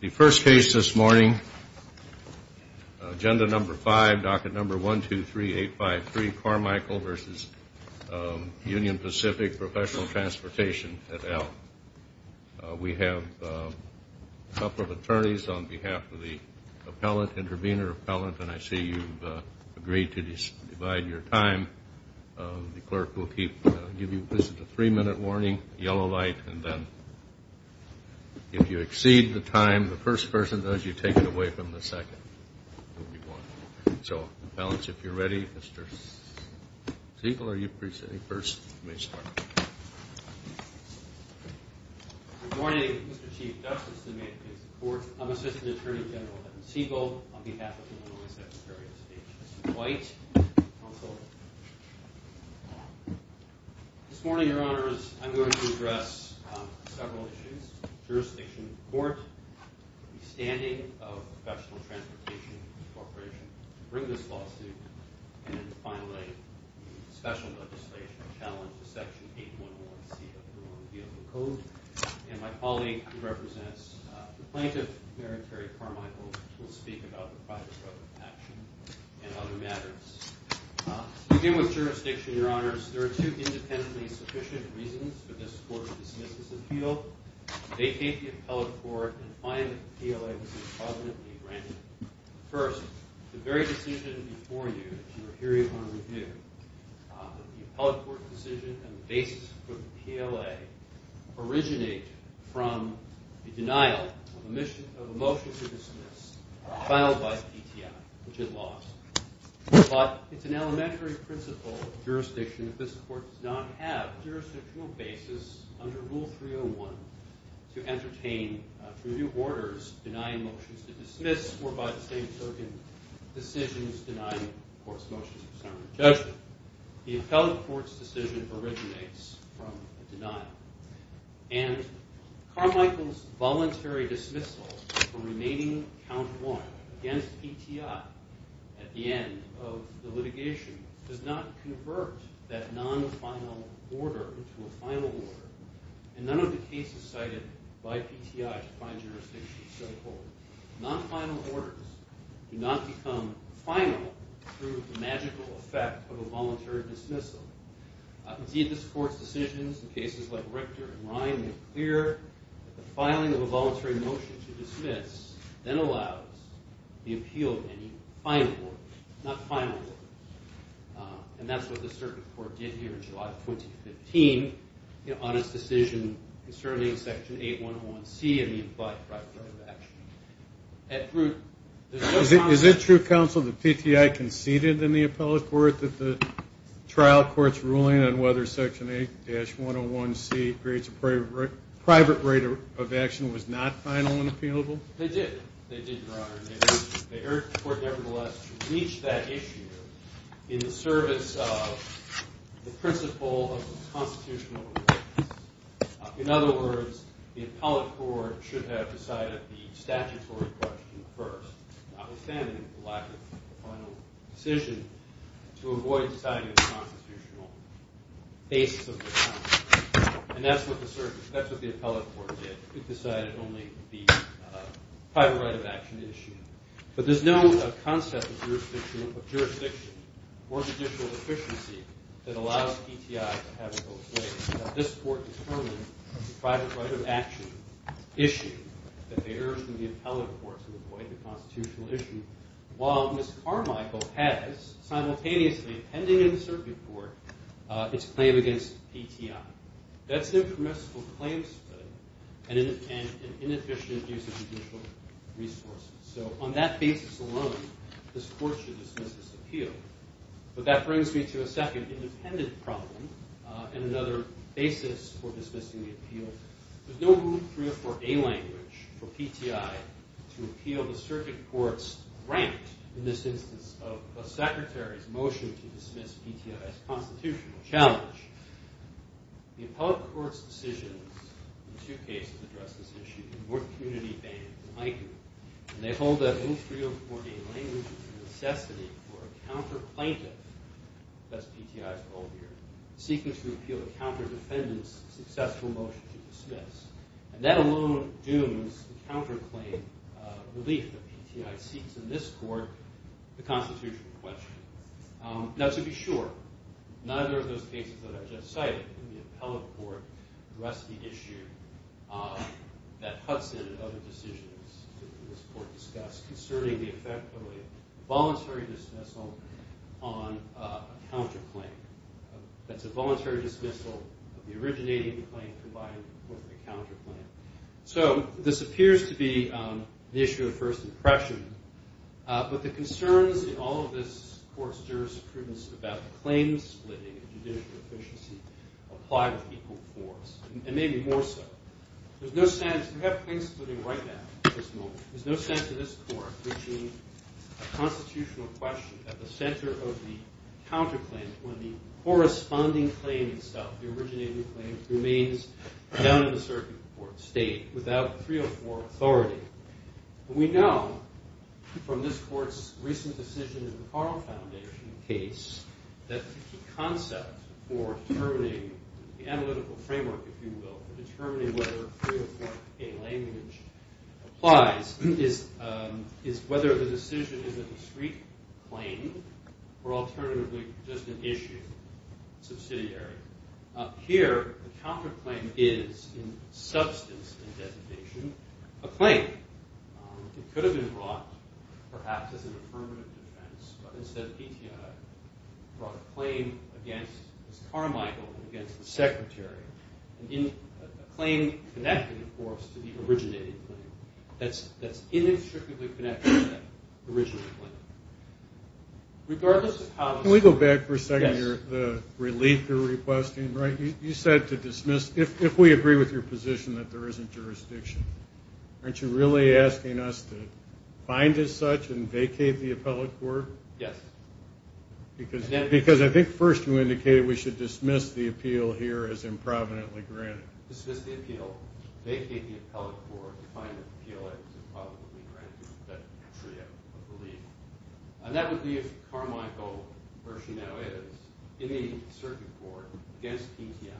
The first case this morning, agenda number five, docket number 1-2-3-8-5-3, Carmichael v. Union Pacific Professional Transportation at Elm. We have a couple of attorneys on behalf of the appellant, intervener appellant, and I see you've agreed to divide your time. The clerk will give you a three-minute warning, a yellow light, and then if you exceed the time the first person does, you take it away from the second. So appellants, if you're ready, Mr. Siegel, are you preceding first? Good morning, Mr. Chief Justice, and may it please the Court, I'm Assistant Attorney General Ed Siegel on behalf of the Illinois Secretary of State. Mr. White, counsel. This morning, Your Honors, I'm going to address several issues. Jurisdiction of the Court, the withstanding of Professional Transportation Corporation to bring this lawsuit, and finally, special legislation to challenge Section 811C of the Illinois Vehicle Code. And my colleague who represents the plaintiff, Mary Terry Carmichael, will speak about the project of action and other matters. To begin with jurisdiction, Your Honors, there are two independently sufficient reasons for this Court to dismiss this appeal. They take the appellate court and finally the PLA to be positively granted. First, the very decision before you that you are hearing on review, the appellate court decision and the basis for the PLA, originate from the denial of a motion to dismiss filed by PTI, which it lost. But it's an elementary principle of jurisdiction that this Court does not have a jurisdictional basis under Rule 301 to entertain, through new orders, denying motions to dismiss or, by the same token, decisions denying a court's motions for summary judgment. The appellate court's decision originates from a denial. And Carmichael's voluntary dismissal for remaining count one against PTI at the end of the litigation does not convert that non-final order into a final order. And none of the cases cited by PTI to find jurisdictional stakeholder non-final orders do not become final through the magical effect of a voluntary dismissal. Indeed, this Court's decisions in cases like Richter and Ryan make clear that the filing of a voluntary motion to dismiss then allows the appeal of any final order, not final order. And that's what the Circuit Court did here in July of 2015 on its decision concerning Section 8101C and the implied private right of action. Is it true, counsel, that PTI conceded in the appellate court that the trial court's ruling on whether Section 8-101C creates a private right of action was not final and appealable? They did. They did, Your Honor. They urged the court, nevertheless, to reach that issue in the service of the principle of the constitutional right. In other words, the appellate court should have decided the statutory question first, notwithstanding the lack of a final decision, to avoid deciding the constitutional basis of the trial. And that's what the appellate court did. It decided only the private right of action issue. But there's no concept of jurisdiction or judicial efficiency that allows PTI to have it both ways. This Court determined the private right of action issue that they urged in the appellate court to avoid the constitutional issue, while Ms. Carmichael has simultaneously, pending in the Circuit Court, its claim against PTI. That's an impermissible claim study and an inefficient use of judicial resources. So on that basis alone, this Court should dismiss this appeal. But that brings me to a second independent problem and another basis for dismissing the appeal. There's no room for a language for PTI to appeal the Circuit Court's grant in this instance of a secretary's motion to dismiss PTI's constitutional challenge. The appellate court's decisions in two cases addressed this issue in North Community Bank in Ikewood. And they hold that in 304A language, it's a necessity for a counter-plaintiff, that's PTI's role here, seeking to appeal a counter-defendant's successful motion to dismiss. And that alone dooms the counter-claim relief that PTI seeks in this Court, the constitutional question. Now, to be sure, neither of those cases that I just cited in the appellate court address the issue that Hudson and other decisions in this Court discuss concerning the effect of a voluntary dismissal on a counter-claim. That's a voluntary dismissal of the originating claim combined with a counter-claim. So this appears to be the issue of first impression. But the concerns in all of this Court's jurisprudence about claim-splitting and judicial efficiency apply with equal force, and maybe more so. There's no sense – we have claim-splitting right now, at this moment. There's no sense in this Court reaching a constitutional question at the center of the counter-claim when the corresponding claim itself, the originating claim, remains down in the Circuit Court State without 304 authority. We know from this Court's recent decision in the Carl Foundation case that the concept for determining the analytical framework, if you will, for determining whether 304a language applies, is whether the decision is a discrete claim or alternatively just an issue, subsidiary. Here, the counter-claim is, in substance and designation, a claim. It could have been brought, perhaps as an affirmative defense, but instead PTI brought a claim against Carmichael, against the Secretary. A claim connected, of course, to the originating claim that's inextricably connected to that original claim. Regardless of how – Can we go back for a second? Yes. The relief you're requesting, right? You said to dismiss – if we agree with your position that there isn't jurisdiction, aren't you really asking us to find as such and vacate the appellate court? Yes. Because I think first you indicated we should dismiss the appeal here as improvidently granted. Dismiss the appeal, vacate the appellate court, find the appeal as improvidently granted, that trio of relief. And that would be if Carmichael, where she now is, in a circuit court, against PTI,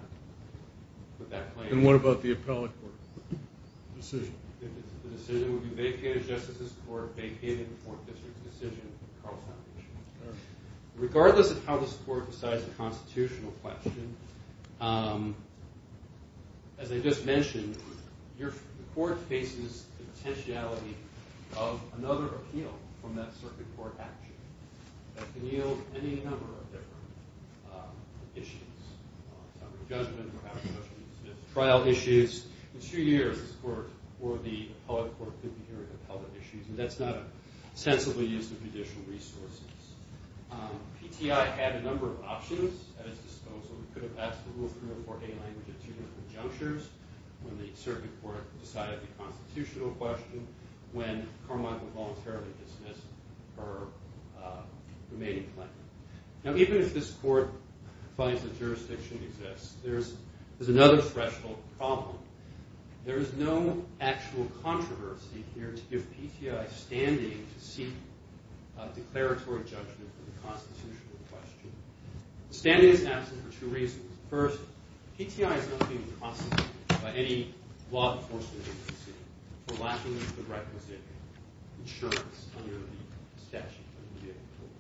would that claim – And what about the appellate court decision? The decision would be vacated as Justice's Court, vacated in the Fourth District's decision, Carl Foundation. Regardless of how this Court decides a constitutional question, as I just mentioned, the Court faces the potentiality of another appeal from that circuit court action that can yield any number of different issues. Trial issues. In a few years, this Court or the appellate court could be hearing appellate issues, and that's not a sensible use of judicial resources. PTI had a number of options at its disposal. We could have passed the Rule 304A language at two different junctures, when the circuit court decided the constitutional question, when Carmichael voluntarily dismissed her remaining claim. Now, even if this Court finds that jurisdiction exists, there's another threshold problem. There is no actual controversy here to give PTI standing to seek declaratory judgment on the constitutional question. The standing is absent for two reasons. First, PTI is not being prosecuted by any law enforcement agency for lacking the requisite insurance under the statute of the vehicle code.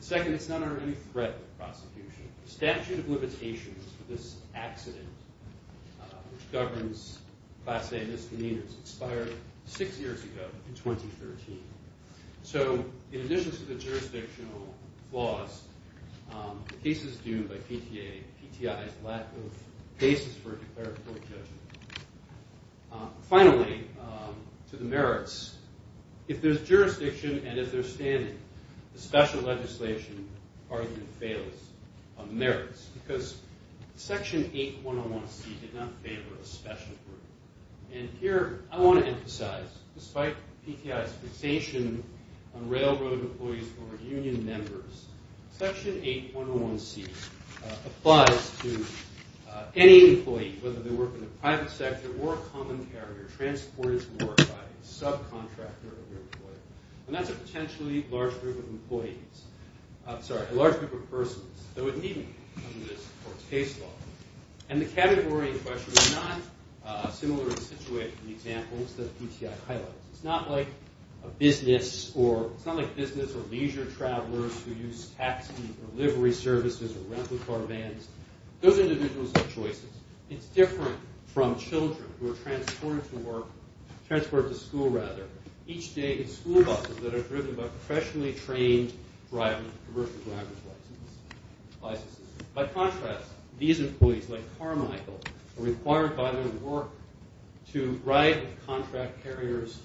Second, it's not under any threat of prosecution. The statute of limitations for this accident, which governs class A misdemeanors, expired six years ago in 2013. So, in addition to the jurisdictional flaws, the cases due by PTA, PTI's lack of basis for declaratory judgment. Finally, to the merits. If there's jurisdiction and if there's standing, the special legislation hardly fails on the merits, because Section 8101C did not favor a special group. And here, I want to emphasize, despite PTI's fixation on railroad employees who are union members, Section 8101C applies to any employee, whether they work in the private sector or a common carrier, transported to work by a subcontractor of your employer. And that's a potentially large group of employees. I'm sorry, a large group of persons. And the category in question is not similar in situation to the examples that PTI highlights. It's not like business or leisure travelers who use taxi or livery services or rental car vans. Those individuals have choices. It's different from children who are transported to school. Each day, it's school buses that are driven by professionally trained drivers, commercial driver's licenses. By contrast, these employees, like Carmichael, are required by their work to ride with contract carriers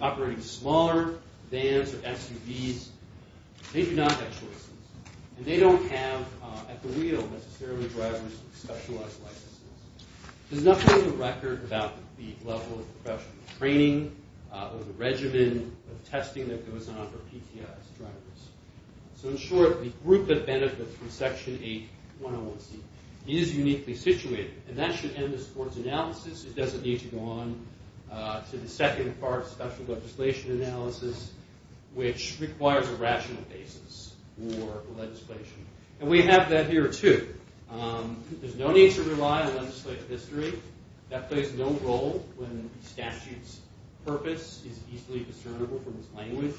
operating smaller vans or SUVs. They do not have choices. And they don't have at the wheel, necessarily, drivers with specialized licenses. There's nothing on the record about the level of professional training or the regimen of testing that goes on for PTI's drivers. So, in short, the group that benefits from Section 8101C is uniquely situated. And that should end the sports analysis. It doesn't need to go on to the second part of special legislation analysis, which requires a rational basis for legislation. And we have that here, too. There's no need to rely on legislative history. That plays no role when a statute's purpose is easily discernible from its language.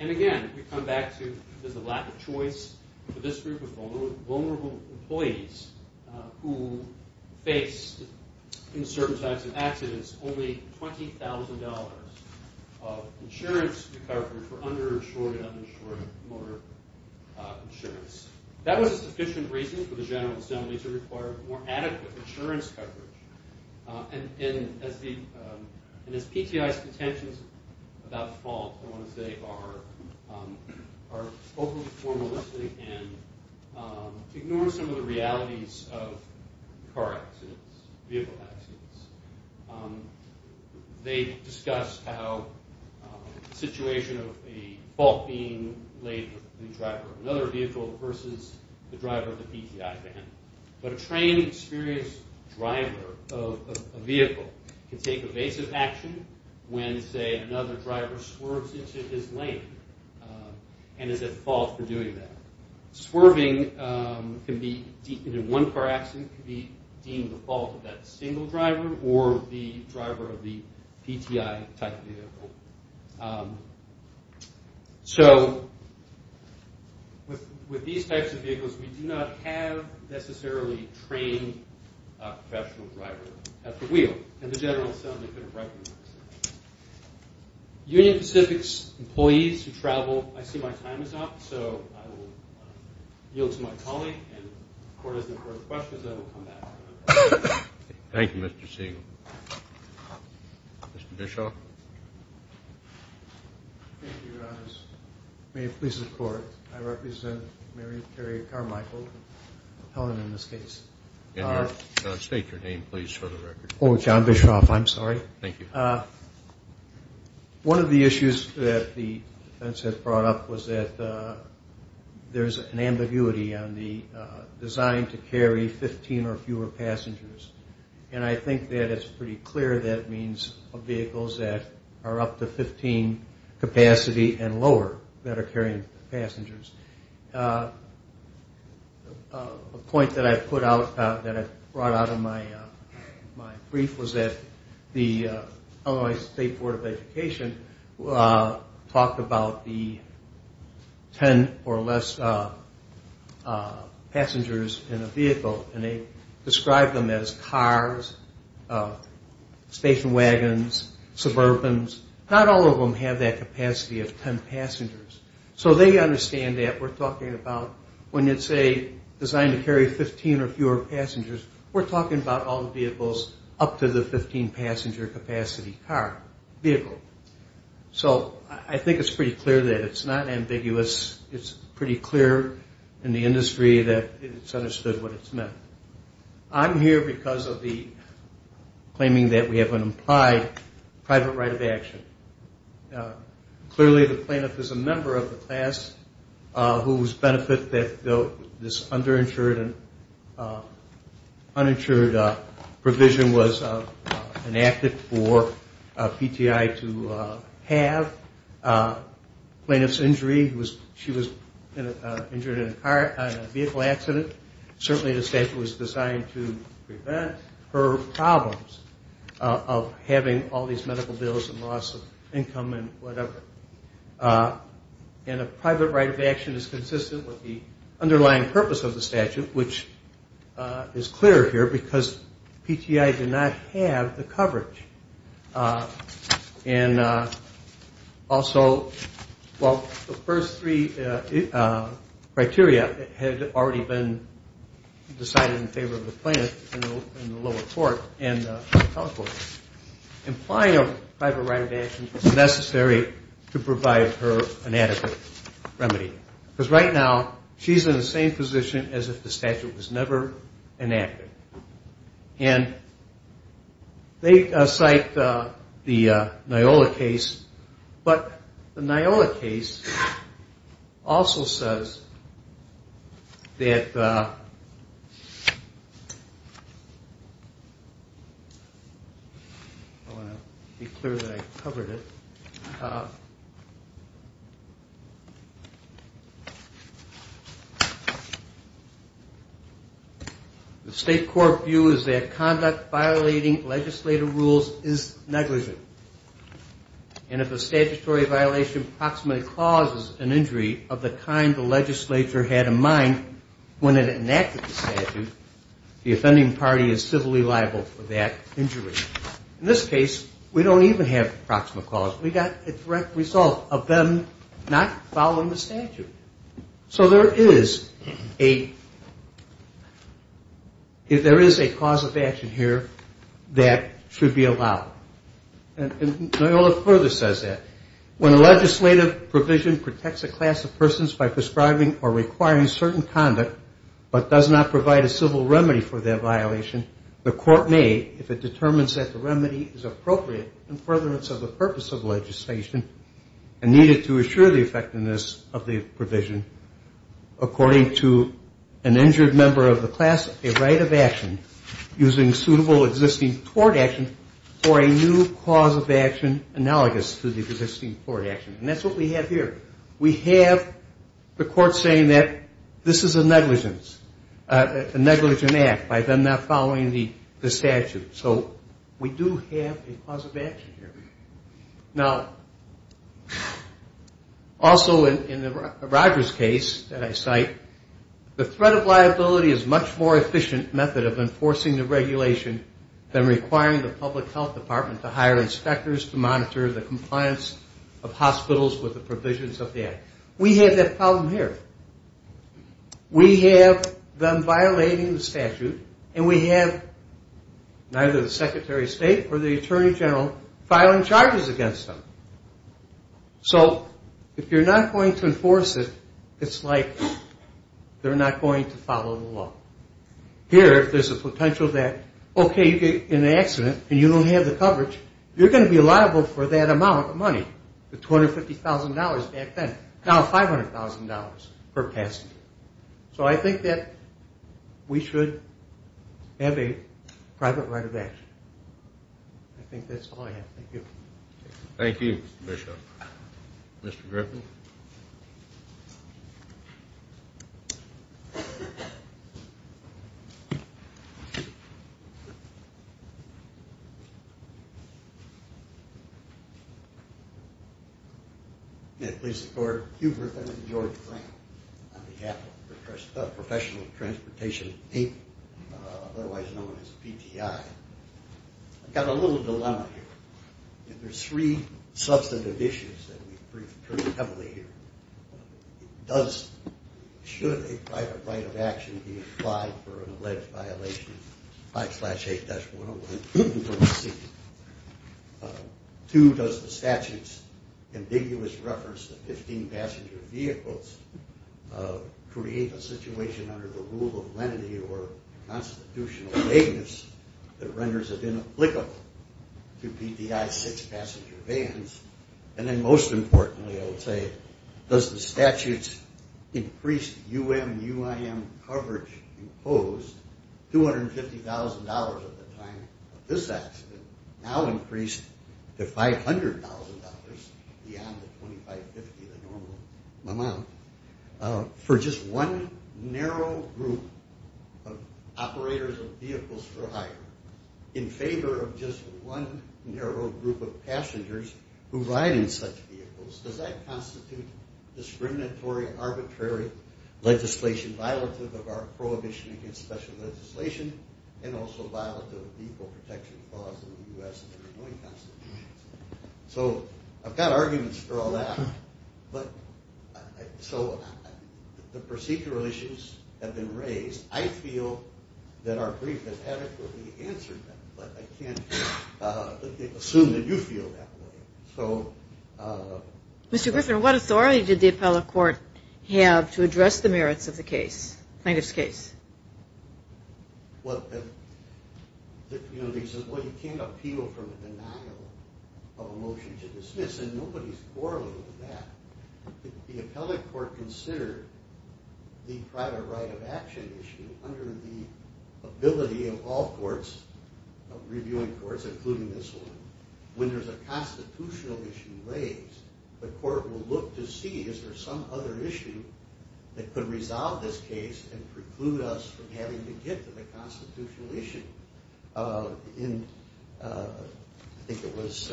And, again, we come back to the lack of choice for this group of vulnerable employees who face, in certain types of accidents, only $20,000 of insurance recovery for underinsured and uninsured motor insurance. That was a sufficient reason for the General Assembly to require more adequate insurance coverage. And as PTI's contentions about fault, I want to say, are overly formalistic and ignore some of the realities of car accidents, vehicle accidents. They discuss how the situation of a fault being laid with the driver of another vehicle versus the driver of the PTI van. But a trained, experienced driver of a vehicle can take evasive action when, say, another driver swerves into his lane and is at fault for doing that. Swerving in one car accident can be deemed the fault of that single driver or the driver of the PTI-type vehicle. So with these types of vehicles, we do not have, necessarily, a trained professional driver at the wheel. And the General Assembly couldn't recognize that. Union Pacific's employees who travel, I see my time is up. So I will yield to my colleague. And if the Court doesn't have further questions, I will come back. Thank you, Mr. Siegel. Mr. Bischoff? Thank you, Your Honors. May it please the Court, I represent Mary Terry Carmichael, Helen in this case. State your name, please, for the record. Oh, John Bischoff, I'm sorry. Thank you. One of the issues that the defense has brought up was that there's an ambiguity on the design to carry 15 or fewer passengers. And I think that it's pretty clear that means vehicles that are up to 15 capacity and lower that are carrying passengers. A point that I put out, that I brought out in my brief was that the Illinois State Board of Education talked about the 10 or less passengers in a vehicle. And they described them as cars, station wagons, suburbans. Not all of them have that capacity of 10 passengers. So they understand that we're talking about when it's a design to carry 15 or fewer passengers, we're talking about all the vehicles up to the 15 passenger capacity vehicle. So I think it's pretty clear that it's not ambiguous. It's pretty clear in the industry that it's understood what it's meant. I'm here because of the claiming that we have an implied private right of action. Clearly the plaintiff is a member of the class whose benefit that this underinsured and uninsured provision was enacted for PTI to have. Plaintiff's injury, she was injured in a vehicle accident. Certainly the statute was designed to prevent her problems of having all these medical bills and loss of income and whatever. And a private right of action is consistent with the underlying purpose of the statute, which is clear here because PTI did not have the coverage. And also, well, the first three criteria had already been decided in favor of the plaintiff in the lower court and the telecourt. Implying a private right of action is necessary to provide her an adequate remedy. Because right now she's in the same position as if the statute was never enacted. And they cite the Nyola case, but the Nyola case also says that – I want to be clear that I covered it. The state court view is that conduct violating legislative rules is negligent. And if a statutory violation approximately causes an injury of the kind the legislature had in mind when it enacted the statute, the offending party is civilly liable for that injury. In this case, we don't even have approximate cause. We got a direct result of them not following the statute. So there is a cause of action here that should be allowed. And Nyola further says that when a legislative provision protects a class of persons by prescribing or requiring certain conduct but does not provide a civil remedy for that violation, the court may, if it determines that the remedy is appropriate in furtherance of the purpose of legislation and needed to assure the effectiveness of the provision, according to an injured member of the class, a right of action using suitable existing tort action for a new cause of action analogous to the existing tort action. And that's what we have here. We have the court saying that this is a negligence, a negligent act by them not following the statute. So we do have a cause of action here. Now, also in the Rogers case that I cite, the threat of liability is much more efficient method of enforcing the regulation than requiring the public health department to hire inspectors to monitor the compliance of hospitals with the provisions of the act. We have that problem here. We have them violating the statute, and we have neither the secretary of state or the attorney general filing charges against them. So if you're not going to enforce it, it's like they're not going to follow the law. Here, there's a potential that, okay, you get in an accident and you don't have the coverage, you're going to be liable for that amount of money, the $250,000 back then, now $500,000 per passenger. So I think that we should have a private right of action. I think that's all I have. Thank you. Thank you, Mr. Bishop. Mr. Griffin? May it please the Court, Hubert and George Frank on behalf of Professional Transportation Inc., otherwise known as PTI. I've got a little dilemma here. There's three substantive issues that we've briefed pretty heavily here. It does, should a private right of action be applied for an alleged violation, 5-8-101, two, does the statute's ambiguous reference to 15 passenger vehicles create a situation under the rule of lenity or constitutional vagueness that renders it inapplicable to PTI six passenger vans? And then most importantly, I would say, does the statute's increased UM-UIM coverage impose $250,000 at the time of this accident, now increased to $500,000 beyond the 25-50, the normal amount, for just one narrow group of operators of vehicles for hire, in favor of just one narrow group of passengers who ride in such vehicles, does that constitute discriminatory, arbitrary legislation, violative of our prohibition against special legislation, and also violative of vehicle protection laws in the U.S. and the United States. So I've got arguments for all that. But so the procedural issues have been raised. I feel that our brief has adequately answered that, but I can't assume that you feel that way. So... Mr. Griffin, what authority did the appellate court have to address the merits of the plaintiff's case? Well, the community says, well, you can't appeal from a denial of a motion to dismiss, and nobody's quarreling with that. If the appellate court considered the private right of action issue, under the ability of all courts, of reviewing courts, including this one, when there's a constitutional issue raised, the court will look to see is there some other issue that could resolve this case and preclude us from having to get to the constitutional issue. In, I think it was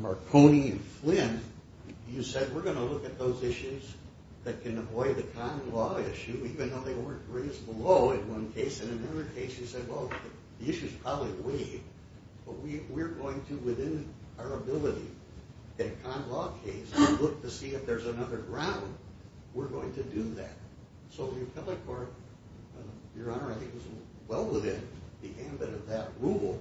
Marconi and Flynn, you said we're going to look at those issues that can avoid a con law issue, even though they weren't raised below in one case, and in another case you said, well, the issue's probably waived, but we're going to, within our ability, in a con law case, look to see if there's another ground. We're going to do that. So the appellate court, Your Honor, I think was well within the ambit of that rule.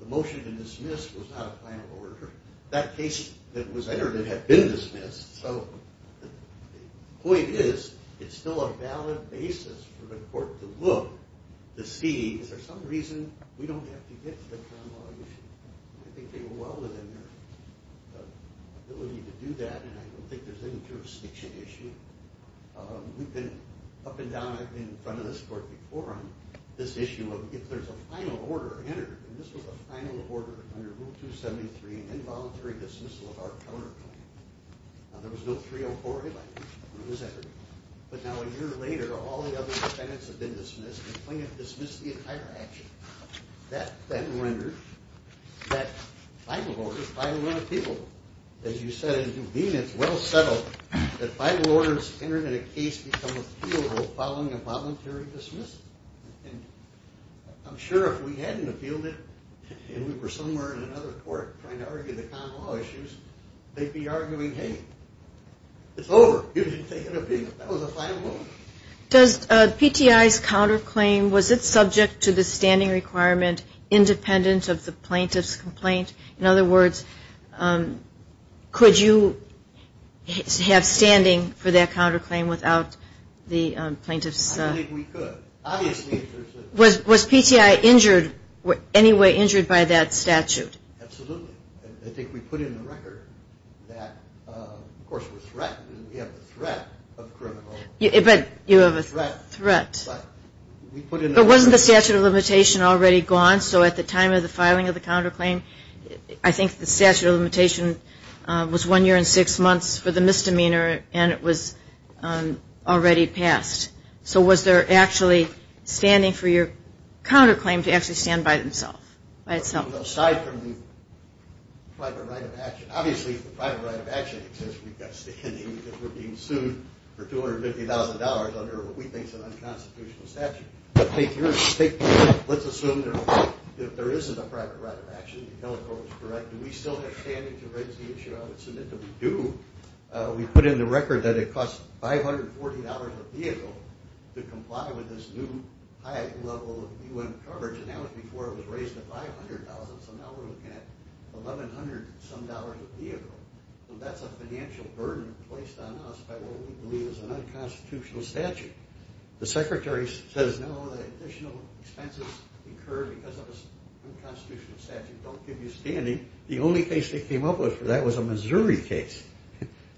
The motion to dismiss was not a final order. That case that was entered had been dismissed, so the point is it's still a valid basis for the court to look to see is there some reason we don't have to get to the con law issue. I think they were well within their ability to do that, and I don't think there's any jurisdiction issue. We've been up and down in front of this court before on this issue of if there's a final order entered, and this was a final order under Rule 273, involuntary dismissal of our counterclaim. There was no 304A language when it was entered, but now a year later, all the other defendants have been dismissed, and Flynn has dismissed the entire action. That then renders that final order, final order of the people. As you said, as you've been, it's well settled that final orders entered in a case become appealable following involuntary dismissal, and I'm sure if we hadn't appealed it, and we were somewhere in another court trying to argue the con law issues, they'd be arguing, hey, it's over. You didn't take an appeal. That was a final order. Does PTI's counterclaim, was it subject to the standing requirement independent of the plaintiff's complaint? In other words, could you have standing for that counterclaim without the plaintiff's? I think we could. Obviously. Was PTI injured, any way injured by that statute? Absolutely. I think we put in the record that, of course, we're threatened, and we have the threat of criminal. But you have a threat. But we put in the record. But wasn't the statute of limitation already gone? So at the time of the filing of the counterclaim, I think the statute of limitation was one year and six months for the misdemeanor, and it was already passed. So was there actually standing for your counterclaim to actually stand by itself? Aside from the private right of action. Obviously the private right of action exists. We've got standing because we're being sued for $250,000 under what we think is an unconstitutional statute. But let's assume that there isn't a private right of action. You held the court was correct. Do we still have standing to raise the issue? I would submit that we do. We put in the record that it costs $540 a vehicle to comply with this new high level of UN coverage, and that was before it was raised to $500. So now we're looking at $1,100 some dollars a vehicle. So that's a financial burden placed on us by what we believe is an unconstitutional statute. The secretary says no, additional expenses incurred because of an unconstitutional statute don't give you standing. The only case they came up with for that was a Missouri case,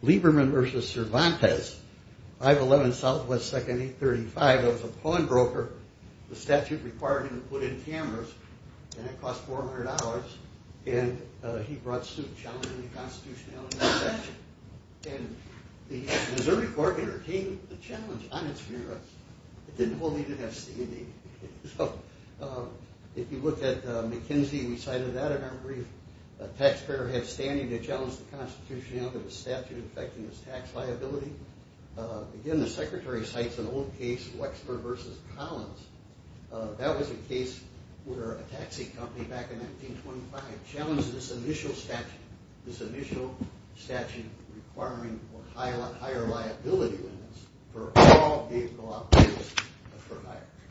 Lieberman v. Cervantes, 511 Southwest 2nd 835. It was a pawnbroker. The statute required him to put in cameras, and it cost $400, and he brought suit challenging the constitutionality of the statute. And the Missouri court entertained the challenge on its cameras. It didn't hold anything of standing. So if you look at McKinsey, we cited that in our brief. A taxpayer had standing to challenge the constitutionality of the statute affecting his tax liability. Again, the secretary cites an old case, Wexler v. Collins. That was a case where a taxi company back in 1925 challenged this initial statute, this initial statute requiring higher liability limits for all vehicle operators.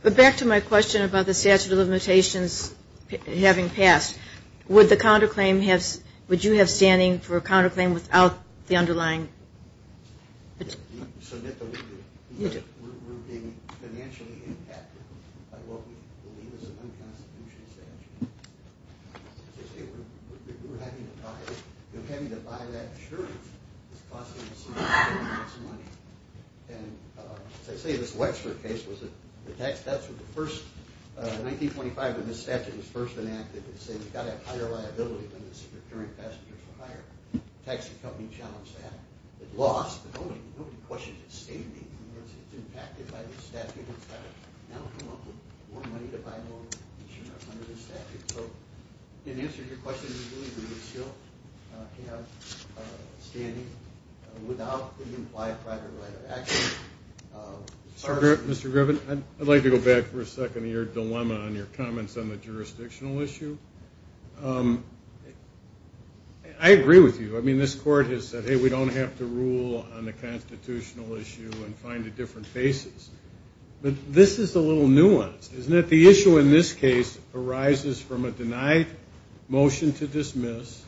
But back to my question about the statute of limitations having passed, would you have standing for a counterclaim without the underlying? We're being financially impacted by what we believe is an unconstitutional statute. We're having to buy that insurance. It's costing us money. And as I say, this Wexler case was the first in 1925 when this statute was first enacted. It said you've got to have higher liability limits if you're carrying passengers for hire. The taxi company challenged that. It lost, but nobody questioned its standing. In other words, it's impacted by this statute. It's got to now come up with more money to buy more insurance under this statute. So in answer to your question, we believe we would still have standing without the implied private right of action. Mr. Griffin, I'd like to go back for a second to your dilemma on your comments on the jurisdictional issue. I agree with you. I mean, this court has said, hey, we don't have to rule on the constitutional issue and find a different basis. But this is a little nuanced, isn't it? The issue in this case arises from a denied motion to dismiss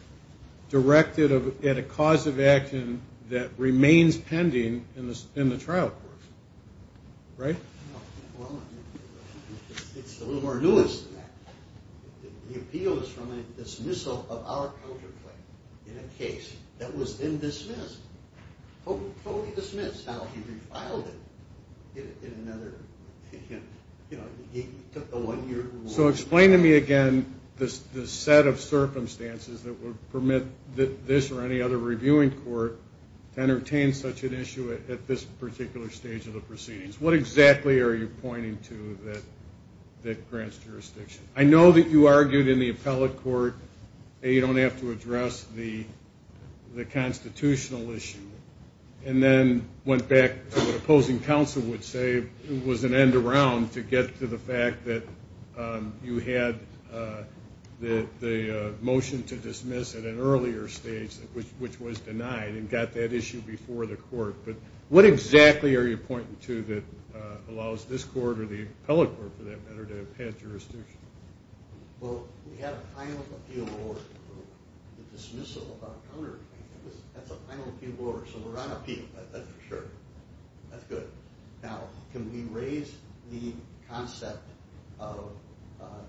directed at a cause of action that remains pending in the trial court. Right? Well, it's a little more nuanced than that. The appeal is from a dismissal of our counterclaim in a case that was then dismissed, totally dismissed. Now he refiled it in another, you know, he took a one-year reward. So explain to me again the set of circumstances that would permit this or any other reviewing court to entertain such an issue at this particular stage of the proceedings. What exactly are you pointing to that grants jurisdiction? I know that you argued in the appellate court, hey, you don't have to address the constitutional issue, and then went back to what opposing counsel would say was an end around to get to the fact that you had the motion to dismiss at an earlier stage, which was denied, and got that issue before the court. But what exactly are you pointing to that allows this court or the appellate court, for that matter, to have jurisdiction? Well, we have a final appeal order for the dismissal of our counterclaim. That's a final appeal order. So we're on appeal. That's for sure. That's good. Now, can we raise the concept of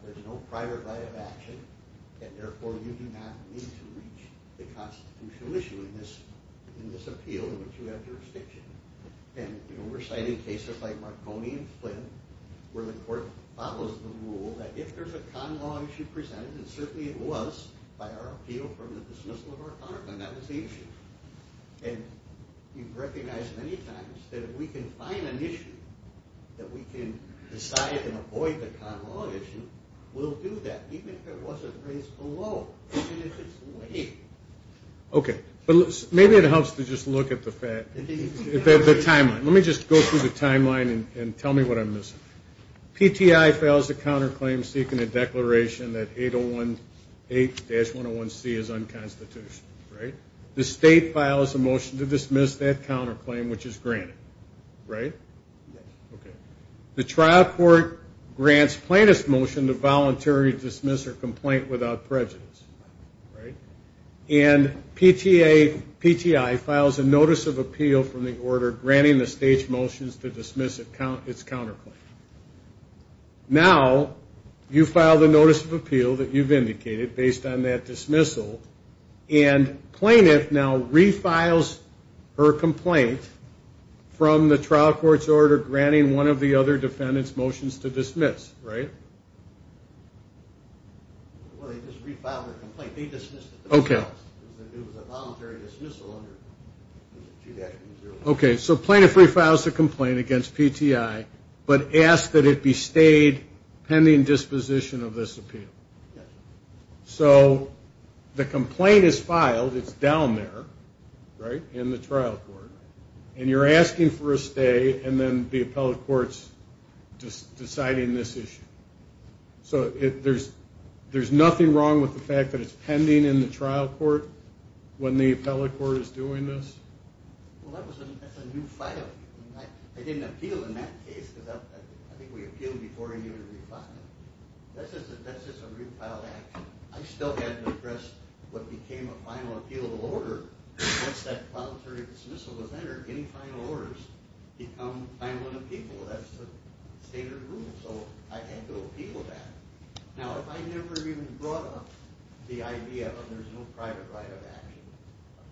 there's no private right of action, and therefore you do not need to reach the constitutional issue in this appeal in which you have jurisdiction? And we're citing cases like Marconi and Flynn, where the court follows the rule that if there's a con law issue presented, and certainly it was by our appeal from the dismissal of our counterclaim, that was the issue. And you've recognized many times that if we can find an issue that we can decide and avoid the con law issue, we'll do that, even if it wasn't raised below, even if it's weak. Okay. Maybe it helps to just look at the timeline. Let me just go through the timeline and tell me what I'm missing. PTI files a counterclaim seeking a declaration that 8018-101C is unconstitutional, right? The state files a motion to dismiss that counterclaim, which is granted, right? Yes. Okay. The trial court grants plaintiff's motion to voluntarily dismiss her complaint without prejudice, right? And PTI files a notice of appeal from the order granting the state's motions to dismiss its counterclaim. Now you file the notice of appeal that you've indicated based on that dismissal, and plaintiff now refiles her complaint from the trial court's order granting one of the other defendant's motions to dismiss, right? Well, they just refiled her complaint. They dismissed it themselves. Okay. It was a voluntary dismissal under 2-0. Okay. So plaintiff refiles the complaint against PTI but asks that it be stayed pending disposition of this appeal. Yes. So the complaint is filed. It's down there, right, in the trial court. And you're asking for a stay, and then the appellate court's deciding this issue. So there's nothing wrong with the fact that it's pending in the trial court when the appellate court is doing this? Well, that's a new file. I didn't appeal in that case because I think we appealed before it was refiled. That's just a refiled action. I still hadn't addressed what became a final appealable order. Once that voluntary dismissal was entered, any final orders become final in the people. That's the standard rule. So I had to appeal that. Now, if I never even brought up the idea that there's no private right of action,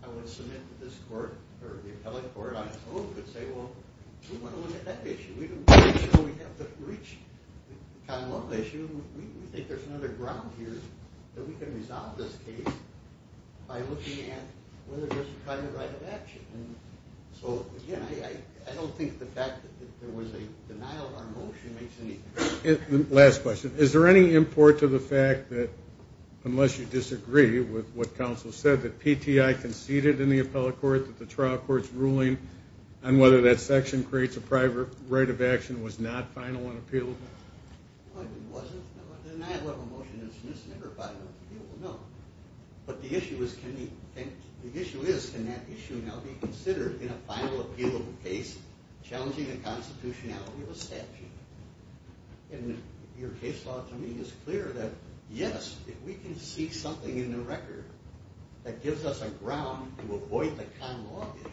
I would submit to this court or the appellate court, I would say, well, we want to look at that issue. We have the breach kind of issue. We think there's another ground here that we can resolve this case by looking at whether there's a private right of action. So, again, I don't think the fact that there was a denial of our motion makes any sense. Last question. Is there any import to the fact that unless you disagree with what counsel said, that PTI conceded in the appellate court that the trial court's ruling on whether that section creates a private right of action was not final and appealable? It wasn't. The denial of a motion is never final and appealable. No. But the issue is can that issue now be considered in a final appealable case challenging the constitutionality of a statute? And your case law to me is clear that, yes, if we can see something in the record that gives us a ground to avoid the con law issue,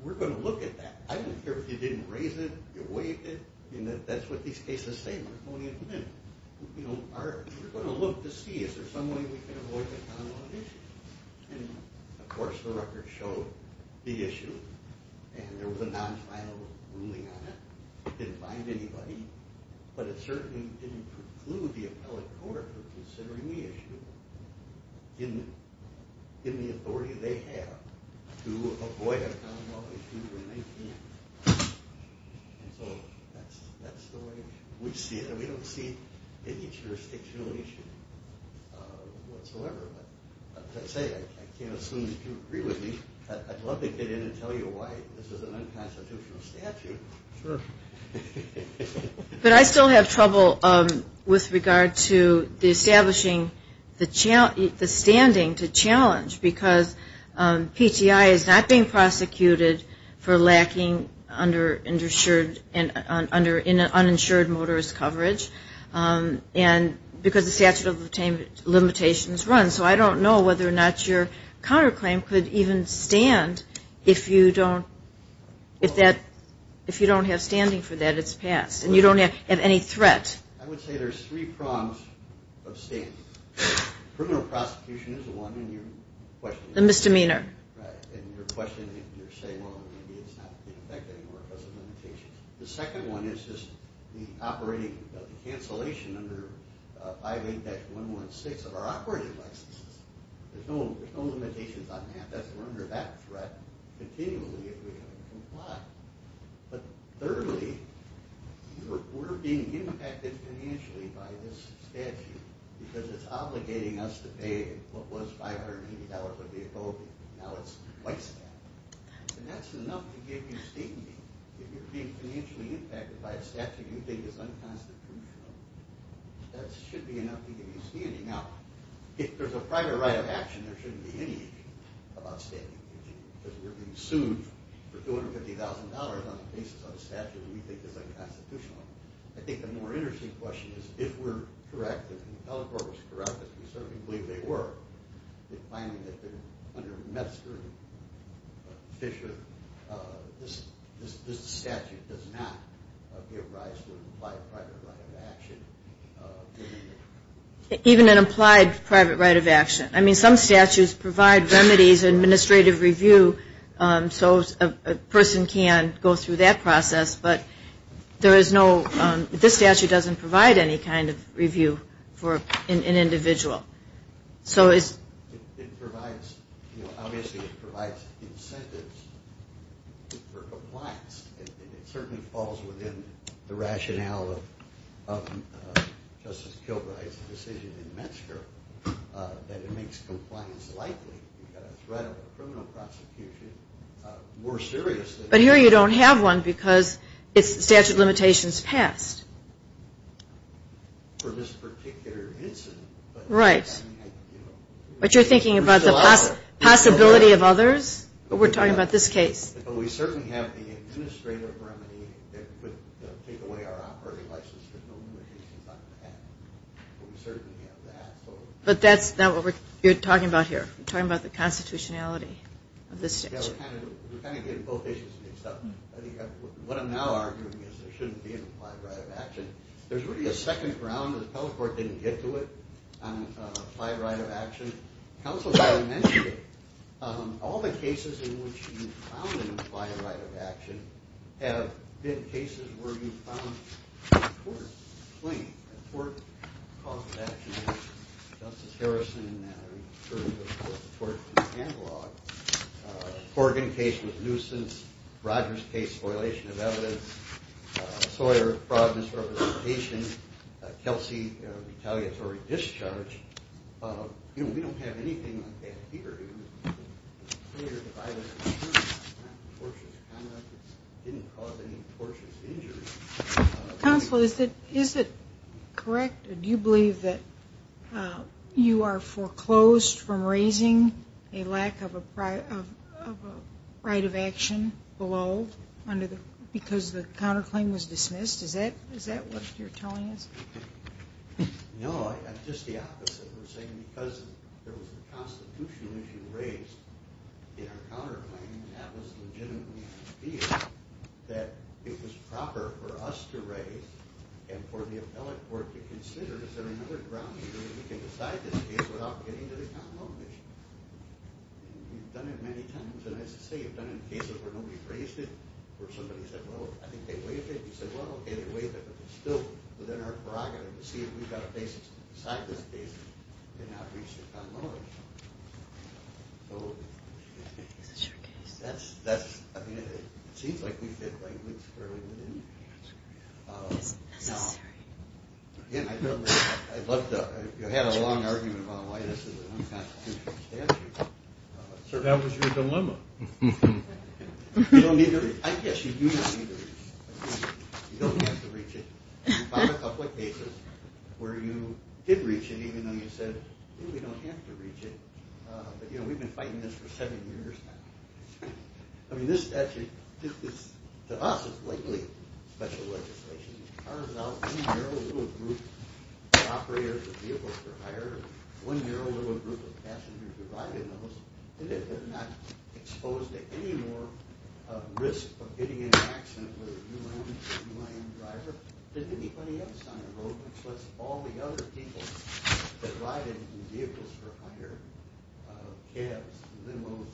we're going to look at that. I don't care if you didn't raise it, you waived it. That's what these cases say. We're going to look to see is there some way we can avoid the con law issue. And, of course, the record showed the issue. And there was a non-final ruling on it. It didn't bind anybody. But it certainly didn't preclude the appellate court from considering the issue in the authority they have to avoid a con law issue when they can. And so that's the way we see it. And we don't see any jurisdictional issue whatsoever. But as I say, I can't assume that you agree with me. I'd love to get in and tell you why this is an unconstitutional statute. Sure. But I still have trouble with regard to establishing the standing to challenge. Because PTI is not being prosecuted for lacking under uninsured motorist coverage. And because the statute of limitations runs. So I don't know whether or not your counterclaim could even stand if you don't have standing for that. It's passed. And you don't have any threat. I would say there's three prongs of standing. Criminal prosecution is one. And your question is? The misdemeanor. Right. And your question is you're saying, well, maybe it's not in effect anymore because of limitations. The second one is just the cancellation under 5A-116 of our operating licenses. There's no limitations on that. We're under that threat continually if we comply. But thirdly, we're being impacted financially by this statute because it's obligating us to pay what was $580 a vehicle. Now it's twice that. And that's enough to give you standing. If you're being financially impacted by a statute you think is unconstitutional, that should be enough to give you standing. Now, if there's a private right of action, there shouldn't be any about standing. Because we're being sued for $250,000 on the basis of a statute we think is unconstitutional. I think the more interesting question is if we're correct, if the appellate court was correct, as we certainly believe they were, the finding that under Metzger and Fisher, this statute does not give rise to an implied private right of action. Even an implied private right of action. I mean, some statutes provide remedies, administrative review, so a person can go through that process. But there is no, this statute doesn't provide any kind of review for an individual. So it's... It provides, obviously it provides incentives for compliance. It certainly falls within the rationale of Justice Kilbride's decision in Metzger that it makes compliance likely. You've got a threat of a criminal prosecution more serious than... But here you don't have one because the statute of limitations passed. For this particular incident. Right. But you're thinking about the possibility of others? But we're talking about this case. But we certainly have the administrative remedy that would take away our operating license. There's no limitations on that. But we certainly have that. But that's not what you're talking about here. You're talking about the constitutionality of this statute. Yeah, we're kind of getting both issues mixed up. What I'm now arguing is there shouldn't be an applied right of action. There's really a second ground. The appellate court didn't get to it on an applied right of action. Counsel's already mentioned it. All the cases in which you found an applied right of action have been cases where you found a tort claim. A tort cause of action. Justice Harrison referred to a tort in the catalog. Corgan case was nuisance. Rogers case, spoilation of evidence. Sawyer fraud misrepresentation. Kelsey retaliatory discharge. We don't have anything like that here. Counsel, is it correct? Do you believe that you are foreclosed from raising a lack of a right of action below because the counterclaim was dismissed? Is that what you're telling us? No, just the opposite. We're saying because there was a constitutional issue raised in our counterclaim, that it was proper for us to raise, and for the appellate court to consider, is there another ground here where we can decide this case without getting to the common law commission? We've done it many times. And as I say, we've done it in cases where nobody raised it, where somebody said, well, I think they waived it. We said, well, okay, they waived it. But it's still within our prerogative to see if we've got a basis to decide this case and not reach the common law commission. Is this your case? That's, I mean, it seems like we fit like woods fairly well in. Is it necessary? Again, I'd love to, you had a long argument about why this is an unconstitutional statute. So that was your dilemma. You don't need to reach, I guess you do not need to reach. You don't have to reach it. You filed a couple of cases where you did reach it, even though you said, we don't have to reach it. But, you know, we've been fighting this for seven years now. I mean, this statute, to us, is likely special legislation. It carves out one narrow little group of operators of vehicles for hire, one narrow little group of passengers who ride in those, and they're not exposed to any more risk of getting in an accident with a UIN driver than anybody else on the road. So that's all the other people that ride in vehicles for hire, cabs, limos,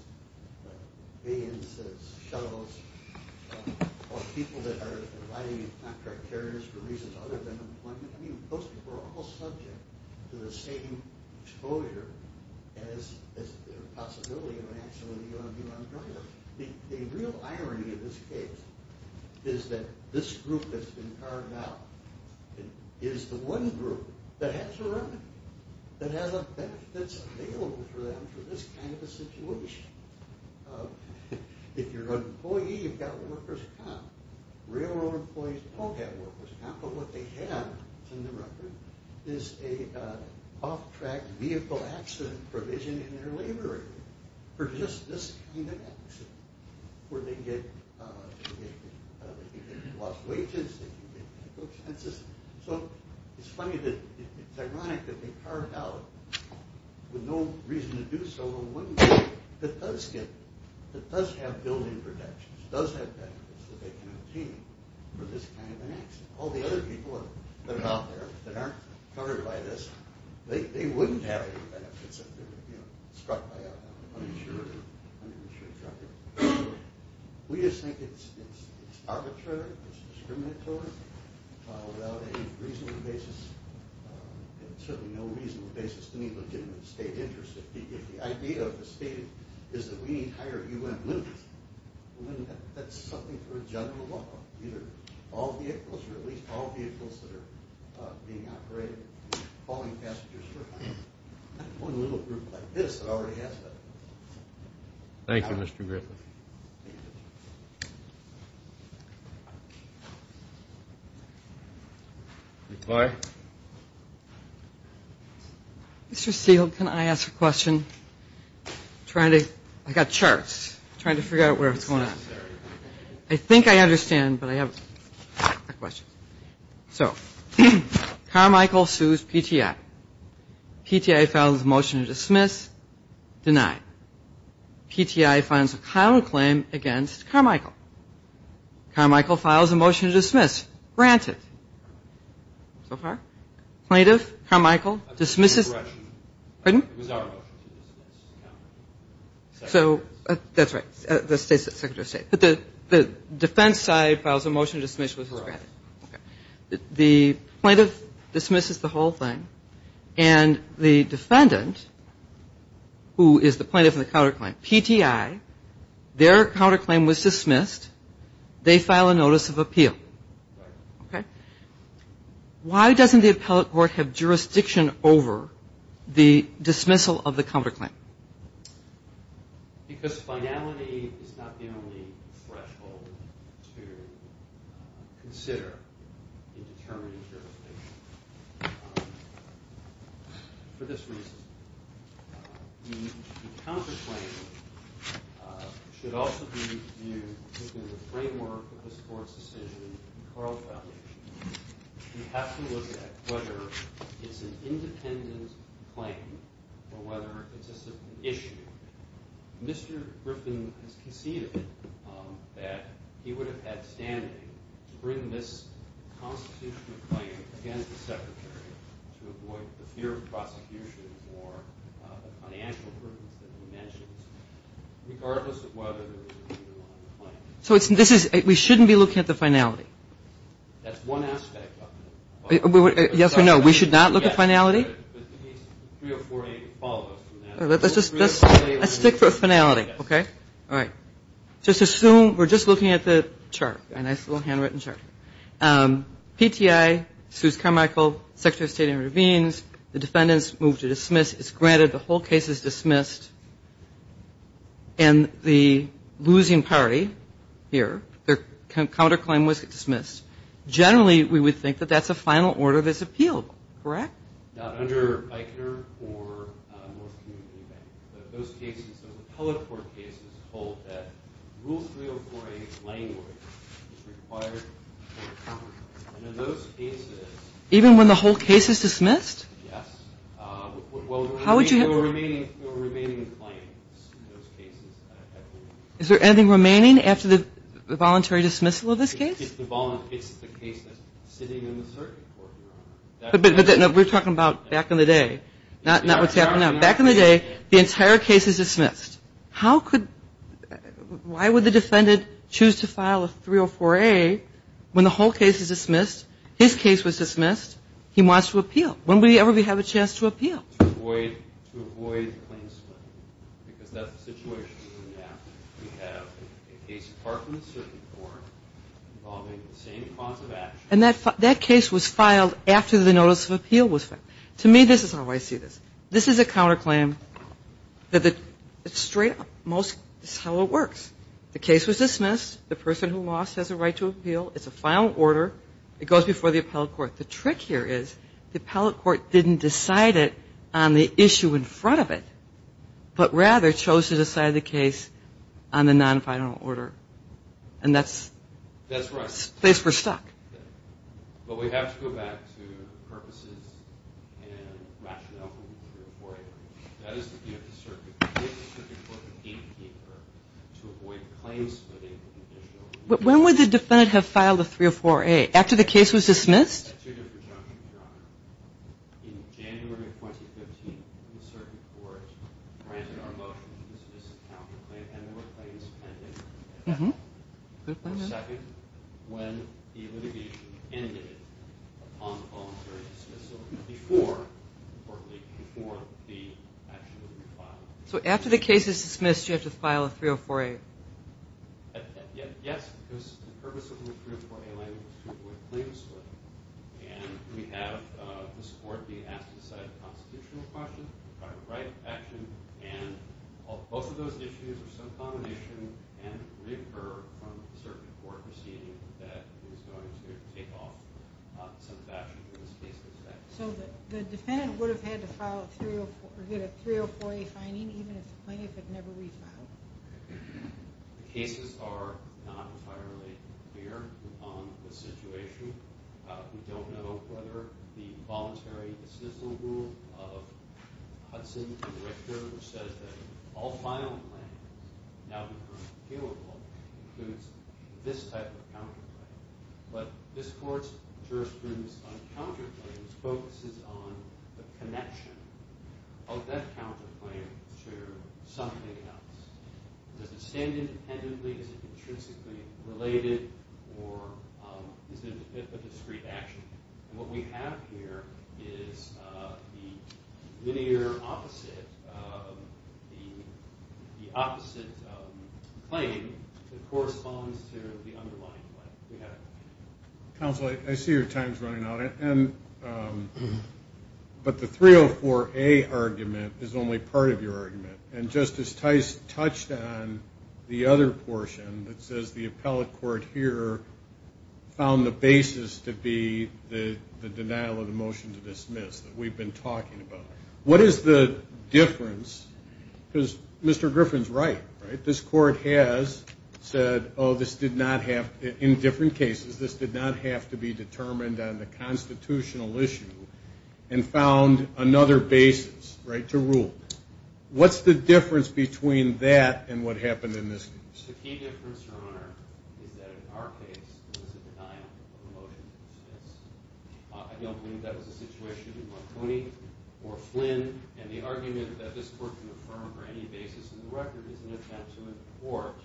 vans, shuttles, or people that are riding in contract carriers for reasons other than employment. I mean, most people are almost subject to the same exposure as the possibility of an accident with a UIN driver. The real irony of this case is that this group that's been carved out is the one group that has a remedy, that has a benefit that's available for them for this kind of a situation. If you're an employee, you've got workers' comp. Railroad employees don't have workers' comp, but what they have, it's in the record, is an off-track vehicle accident provision in their labor agreement for just this kind of accident, where they get lost wages, they get medical expenses. So it's funny that it's ironic that they carve out, with no reason to do so, that does have built-in protections, does have benefits that they can obtain for this kind of an accident. All the other people that are out there that aren't covered by this, they wouldn't have any benefits if they were struck by an uninsured driver. We just think it's arbitrary, it's discriminatory, without any reasonable basis, certainly no reasonable basis to need legitimate state interest. If the idea of the state is that we need higher U.N. limits, well then that's something for a general law. Either all vehicles, or at least all vehicles that are being operated, calling passengers for help. Not one little group like this that already has that. Thank you, Mr. Griffith. Mr. Steele, can I ask a question? I've got charts. I'm trying to figure out where it's going on. I think I understand, but I have a question. So Carmichael sues PTI. PTI files a motion to dismiss, deny. PTI files a condemnation motion. Carmichael. Carmichael files a motion to dismiss, granted. Plaintiff, Carmichael, dismisses. Pardon? It was our motion to dismiss. So that's right. The State Secretary of State. But the defense side files a motion to dismiss, which is granted. The plaintiff dismisses the whole thing, and the defendant, who is the plaintiff in the counterclaim, PTI, their counterclaim was dismissed. They file a notice of appeal. Why doesn't the appellate court have jurisdiction over the dismissal of the counterclaim? Because finality is not the only threshold to consider in determining jurisdiction. For this reason, the counterclaim should also be viewed within the framework of the court's decision in Carlisle. You have to look at whether it's an independent claim or whether it's just an issue. Mr. Griffin has conceded that he would have had standing to bring this constitutional claim against the Secretary to avoid the fear of prosecution or the financial burdens that he mentions, regardless of whether there was a leader on the claim. So we shouldn't be looking at the finality. That's one aspect of it. Yes or no? We should not look at finality? Yes, but the case 3048 would follow us from that. Let's stick with finality, okay? All right. Just assume we're just looking at the chart, a nice little handwritten chart. PTI, Suze Carmichael, Secretary of State in Ravines, the defendants move to dismiss. It's granted. The whole case is dismissed. And the losing party here, their counterclaim was dismissed. Generally, we would think that that's a final order that's appealed, correct? Not under Eichner or North Community Bank. But those cases, those appellate court cases, hold that Rule 3048 language is required. And in those cases. Even when the whole case is dismissed? Yes. Well, there were remaining claims in those cases. Is there anything remaining after the voluntary dismissal of this case? It's the case that's sitting in the circuit court, Your Honor. But we're talking about back in the day, not what's happening now. Back in the day, the entire case is dismissed. How could – why would the defendant choose to file a 304A when the whole case is dismissed, his case was dismissed, he wants to appeal? When would he ever have a chance to appeal? To avoid a claim split. Because that's the situation we're in now. We have a case apart from the circuit court involving the same cause of action. And that case was filed after the notice of appeal was filed. To me, this is how I see this. This is a counterclaim. Straight up, this is how it works. The case was dismissed. The person who lost has a right to appeal. It's a final order. It goes before the appellate court. The trick here is the appellate court didn't decide it on the issue in front of it, but rather chose to decide the case on the non-final order. And that's the place we're stuck. But we have to go back to purposes and rationale for the 304A. That is the view of the circuit. The case is in the circuit court, the gatekeeper, to avoid claim splitting. When would the defendant have filed a 304A? After the case was dismissed? In January of 2015, the circuit court granted our motion to dismiss the counterclaim and there were claims pending. For a second, when the litigation ended, upon voluntary dismissal, before the action would be filed. So after the case is dismissed, you have to file a 304A? Yes, because the purpose of the 304A was to avoid claim splitting. And we have this court being asked to decide a constitutional question, a right of action, and both of those issues are some combination and recur from the circuit court proceeding that is going to take off some of the action in this case. So the defendant would have had to file a 304A, even if the plaintiff had never refiled. The cases are not entirely clear on the situation. We don't know whether the voluntary dismissal rule of Hudson and Richter which says that all filing claims, now the current appealable, includes this type of counterclaim. But this court's jurisprudence on counterclaims focuses on the connection of that counterclaim to something else. Does it stand independently? Is it intrinsically related? Or is it a discrete action? And what we have here is the linear opposite of the opposite claim that corresponds to the underlying claim. Counsel, I see your time is running out. But the 304A argument is only part of your argument. And Justice Tice touched on the other portion that says the appellate court here found the basis to be the denial of the motion to dismiss that we've been talking about. What is the difference? Because Mr. Griffin's right, right? This court has said, oh, this did not have to be, in different cases, this did not have to be determined on the constitutional issue and found another basis, right, to rule. What's the difference between that and what happened in this case? The key difference, Your Honor, is that in our case, it was a denial of the motion to dismiss. I don't believe that was a situation in Marconi or Flynn. And the argument that this court can affirm for any basis in the record is an attempt to import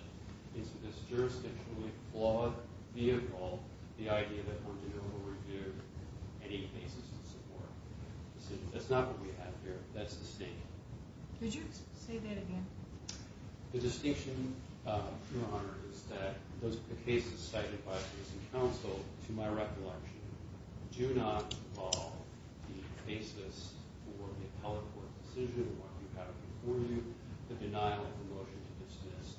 into this jurisdictionally flawed vehicle the idea that one could overdo any basis in support. That's not what we have here. That's the statement. Would you say that again? The distinction, Your Honor, is that the cases cited by the citizen counsel to my recollection do not involve the basis for the appellate court decision to deny the motion to dismiss.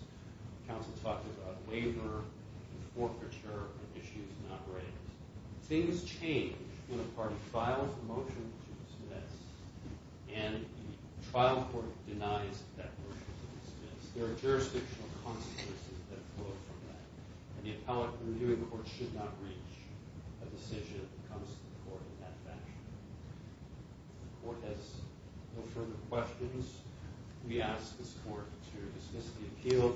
Counsel talked about waiver and forfeiture of issues not raised. Things change when a party files a motion to dismiss and the trial court denies that motion to dismiss. There are jurisdictional consequences that flow from that. And the appellate reviewing court should not reach a decision that comes to the court in that fashion. If the court has no further questions, we ask this court to dismiss the appeal,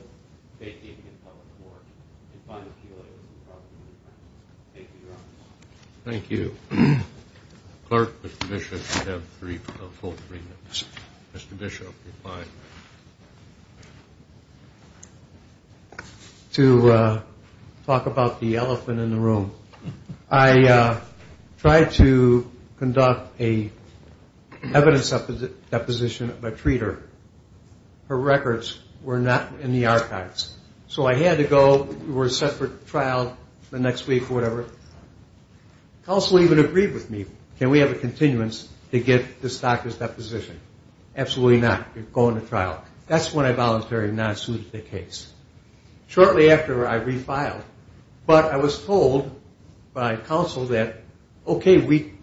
vacate the appellate court, and find an appeal later. Thank you, Your Honor. Thank you. Clerk, Mr. Bishop, you have three full three minutes. Mr. Bishop, reply. To talk about the elephant in the room, I tried to conduct an evidence deposition of a treater. Her records were not in the archives. So I had to go. We were set for trial the next week or whatever. Counsel even agreed with me. Can we have a continuance to get this doctor's deposition? Absolutely not. You're going to trial. That's when I voluntarily not sued the case. Shortly after, I refiled. But I was told by counsel that, okay, we've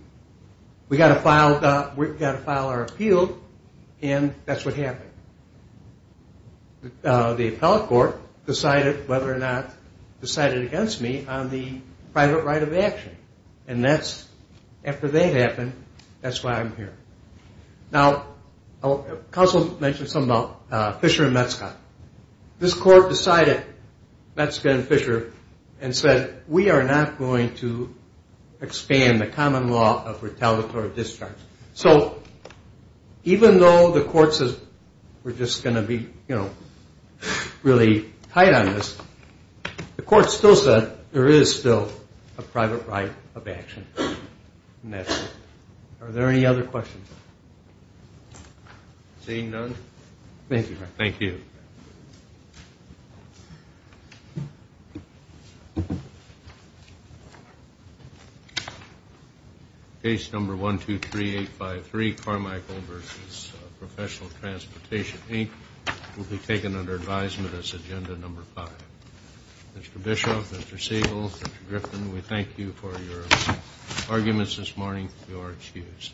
got to file our appeal, and that's what happened. The appellate court decided whether or not to cite it against me on the private right of action. And after that happened, that's why I'm here. Now, counsel mentioned something about Fisher and Metzcott. This court decided, Metzcott and Fisher, and said we are not going to expand the common law of retaliatory discharge. So even though the court says we're just going to be really tight on this, the court still said there is still a private right of action. Are there any other questions? Seeing none. Thank you. Thank you. Case number 123853, Carmichael v. Professional Transportation, Inc., will be taken under advisement as agenda number five. Mr. Bishop, Mr. Siegel, Mr. Griffin, we thank you for your arguments this morning. You are excused.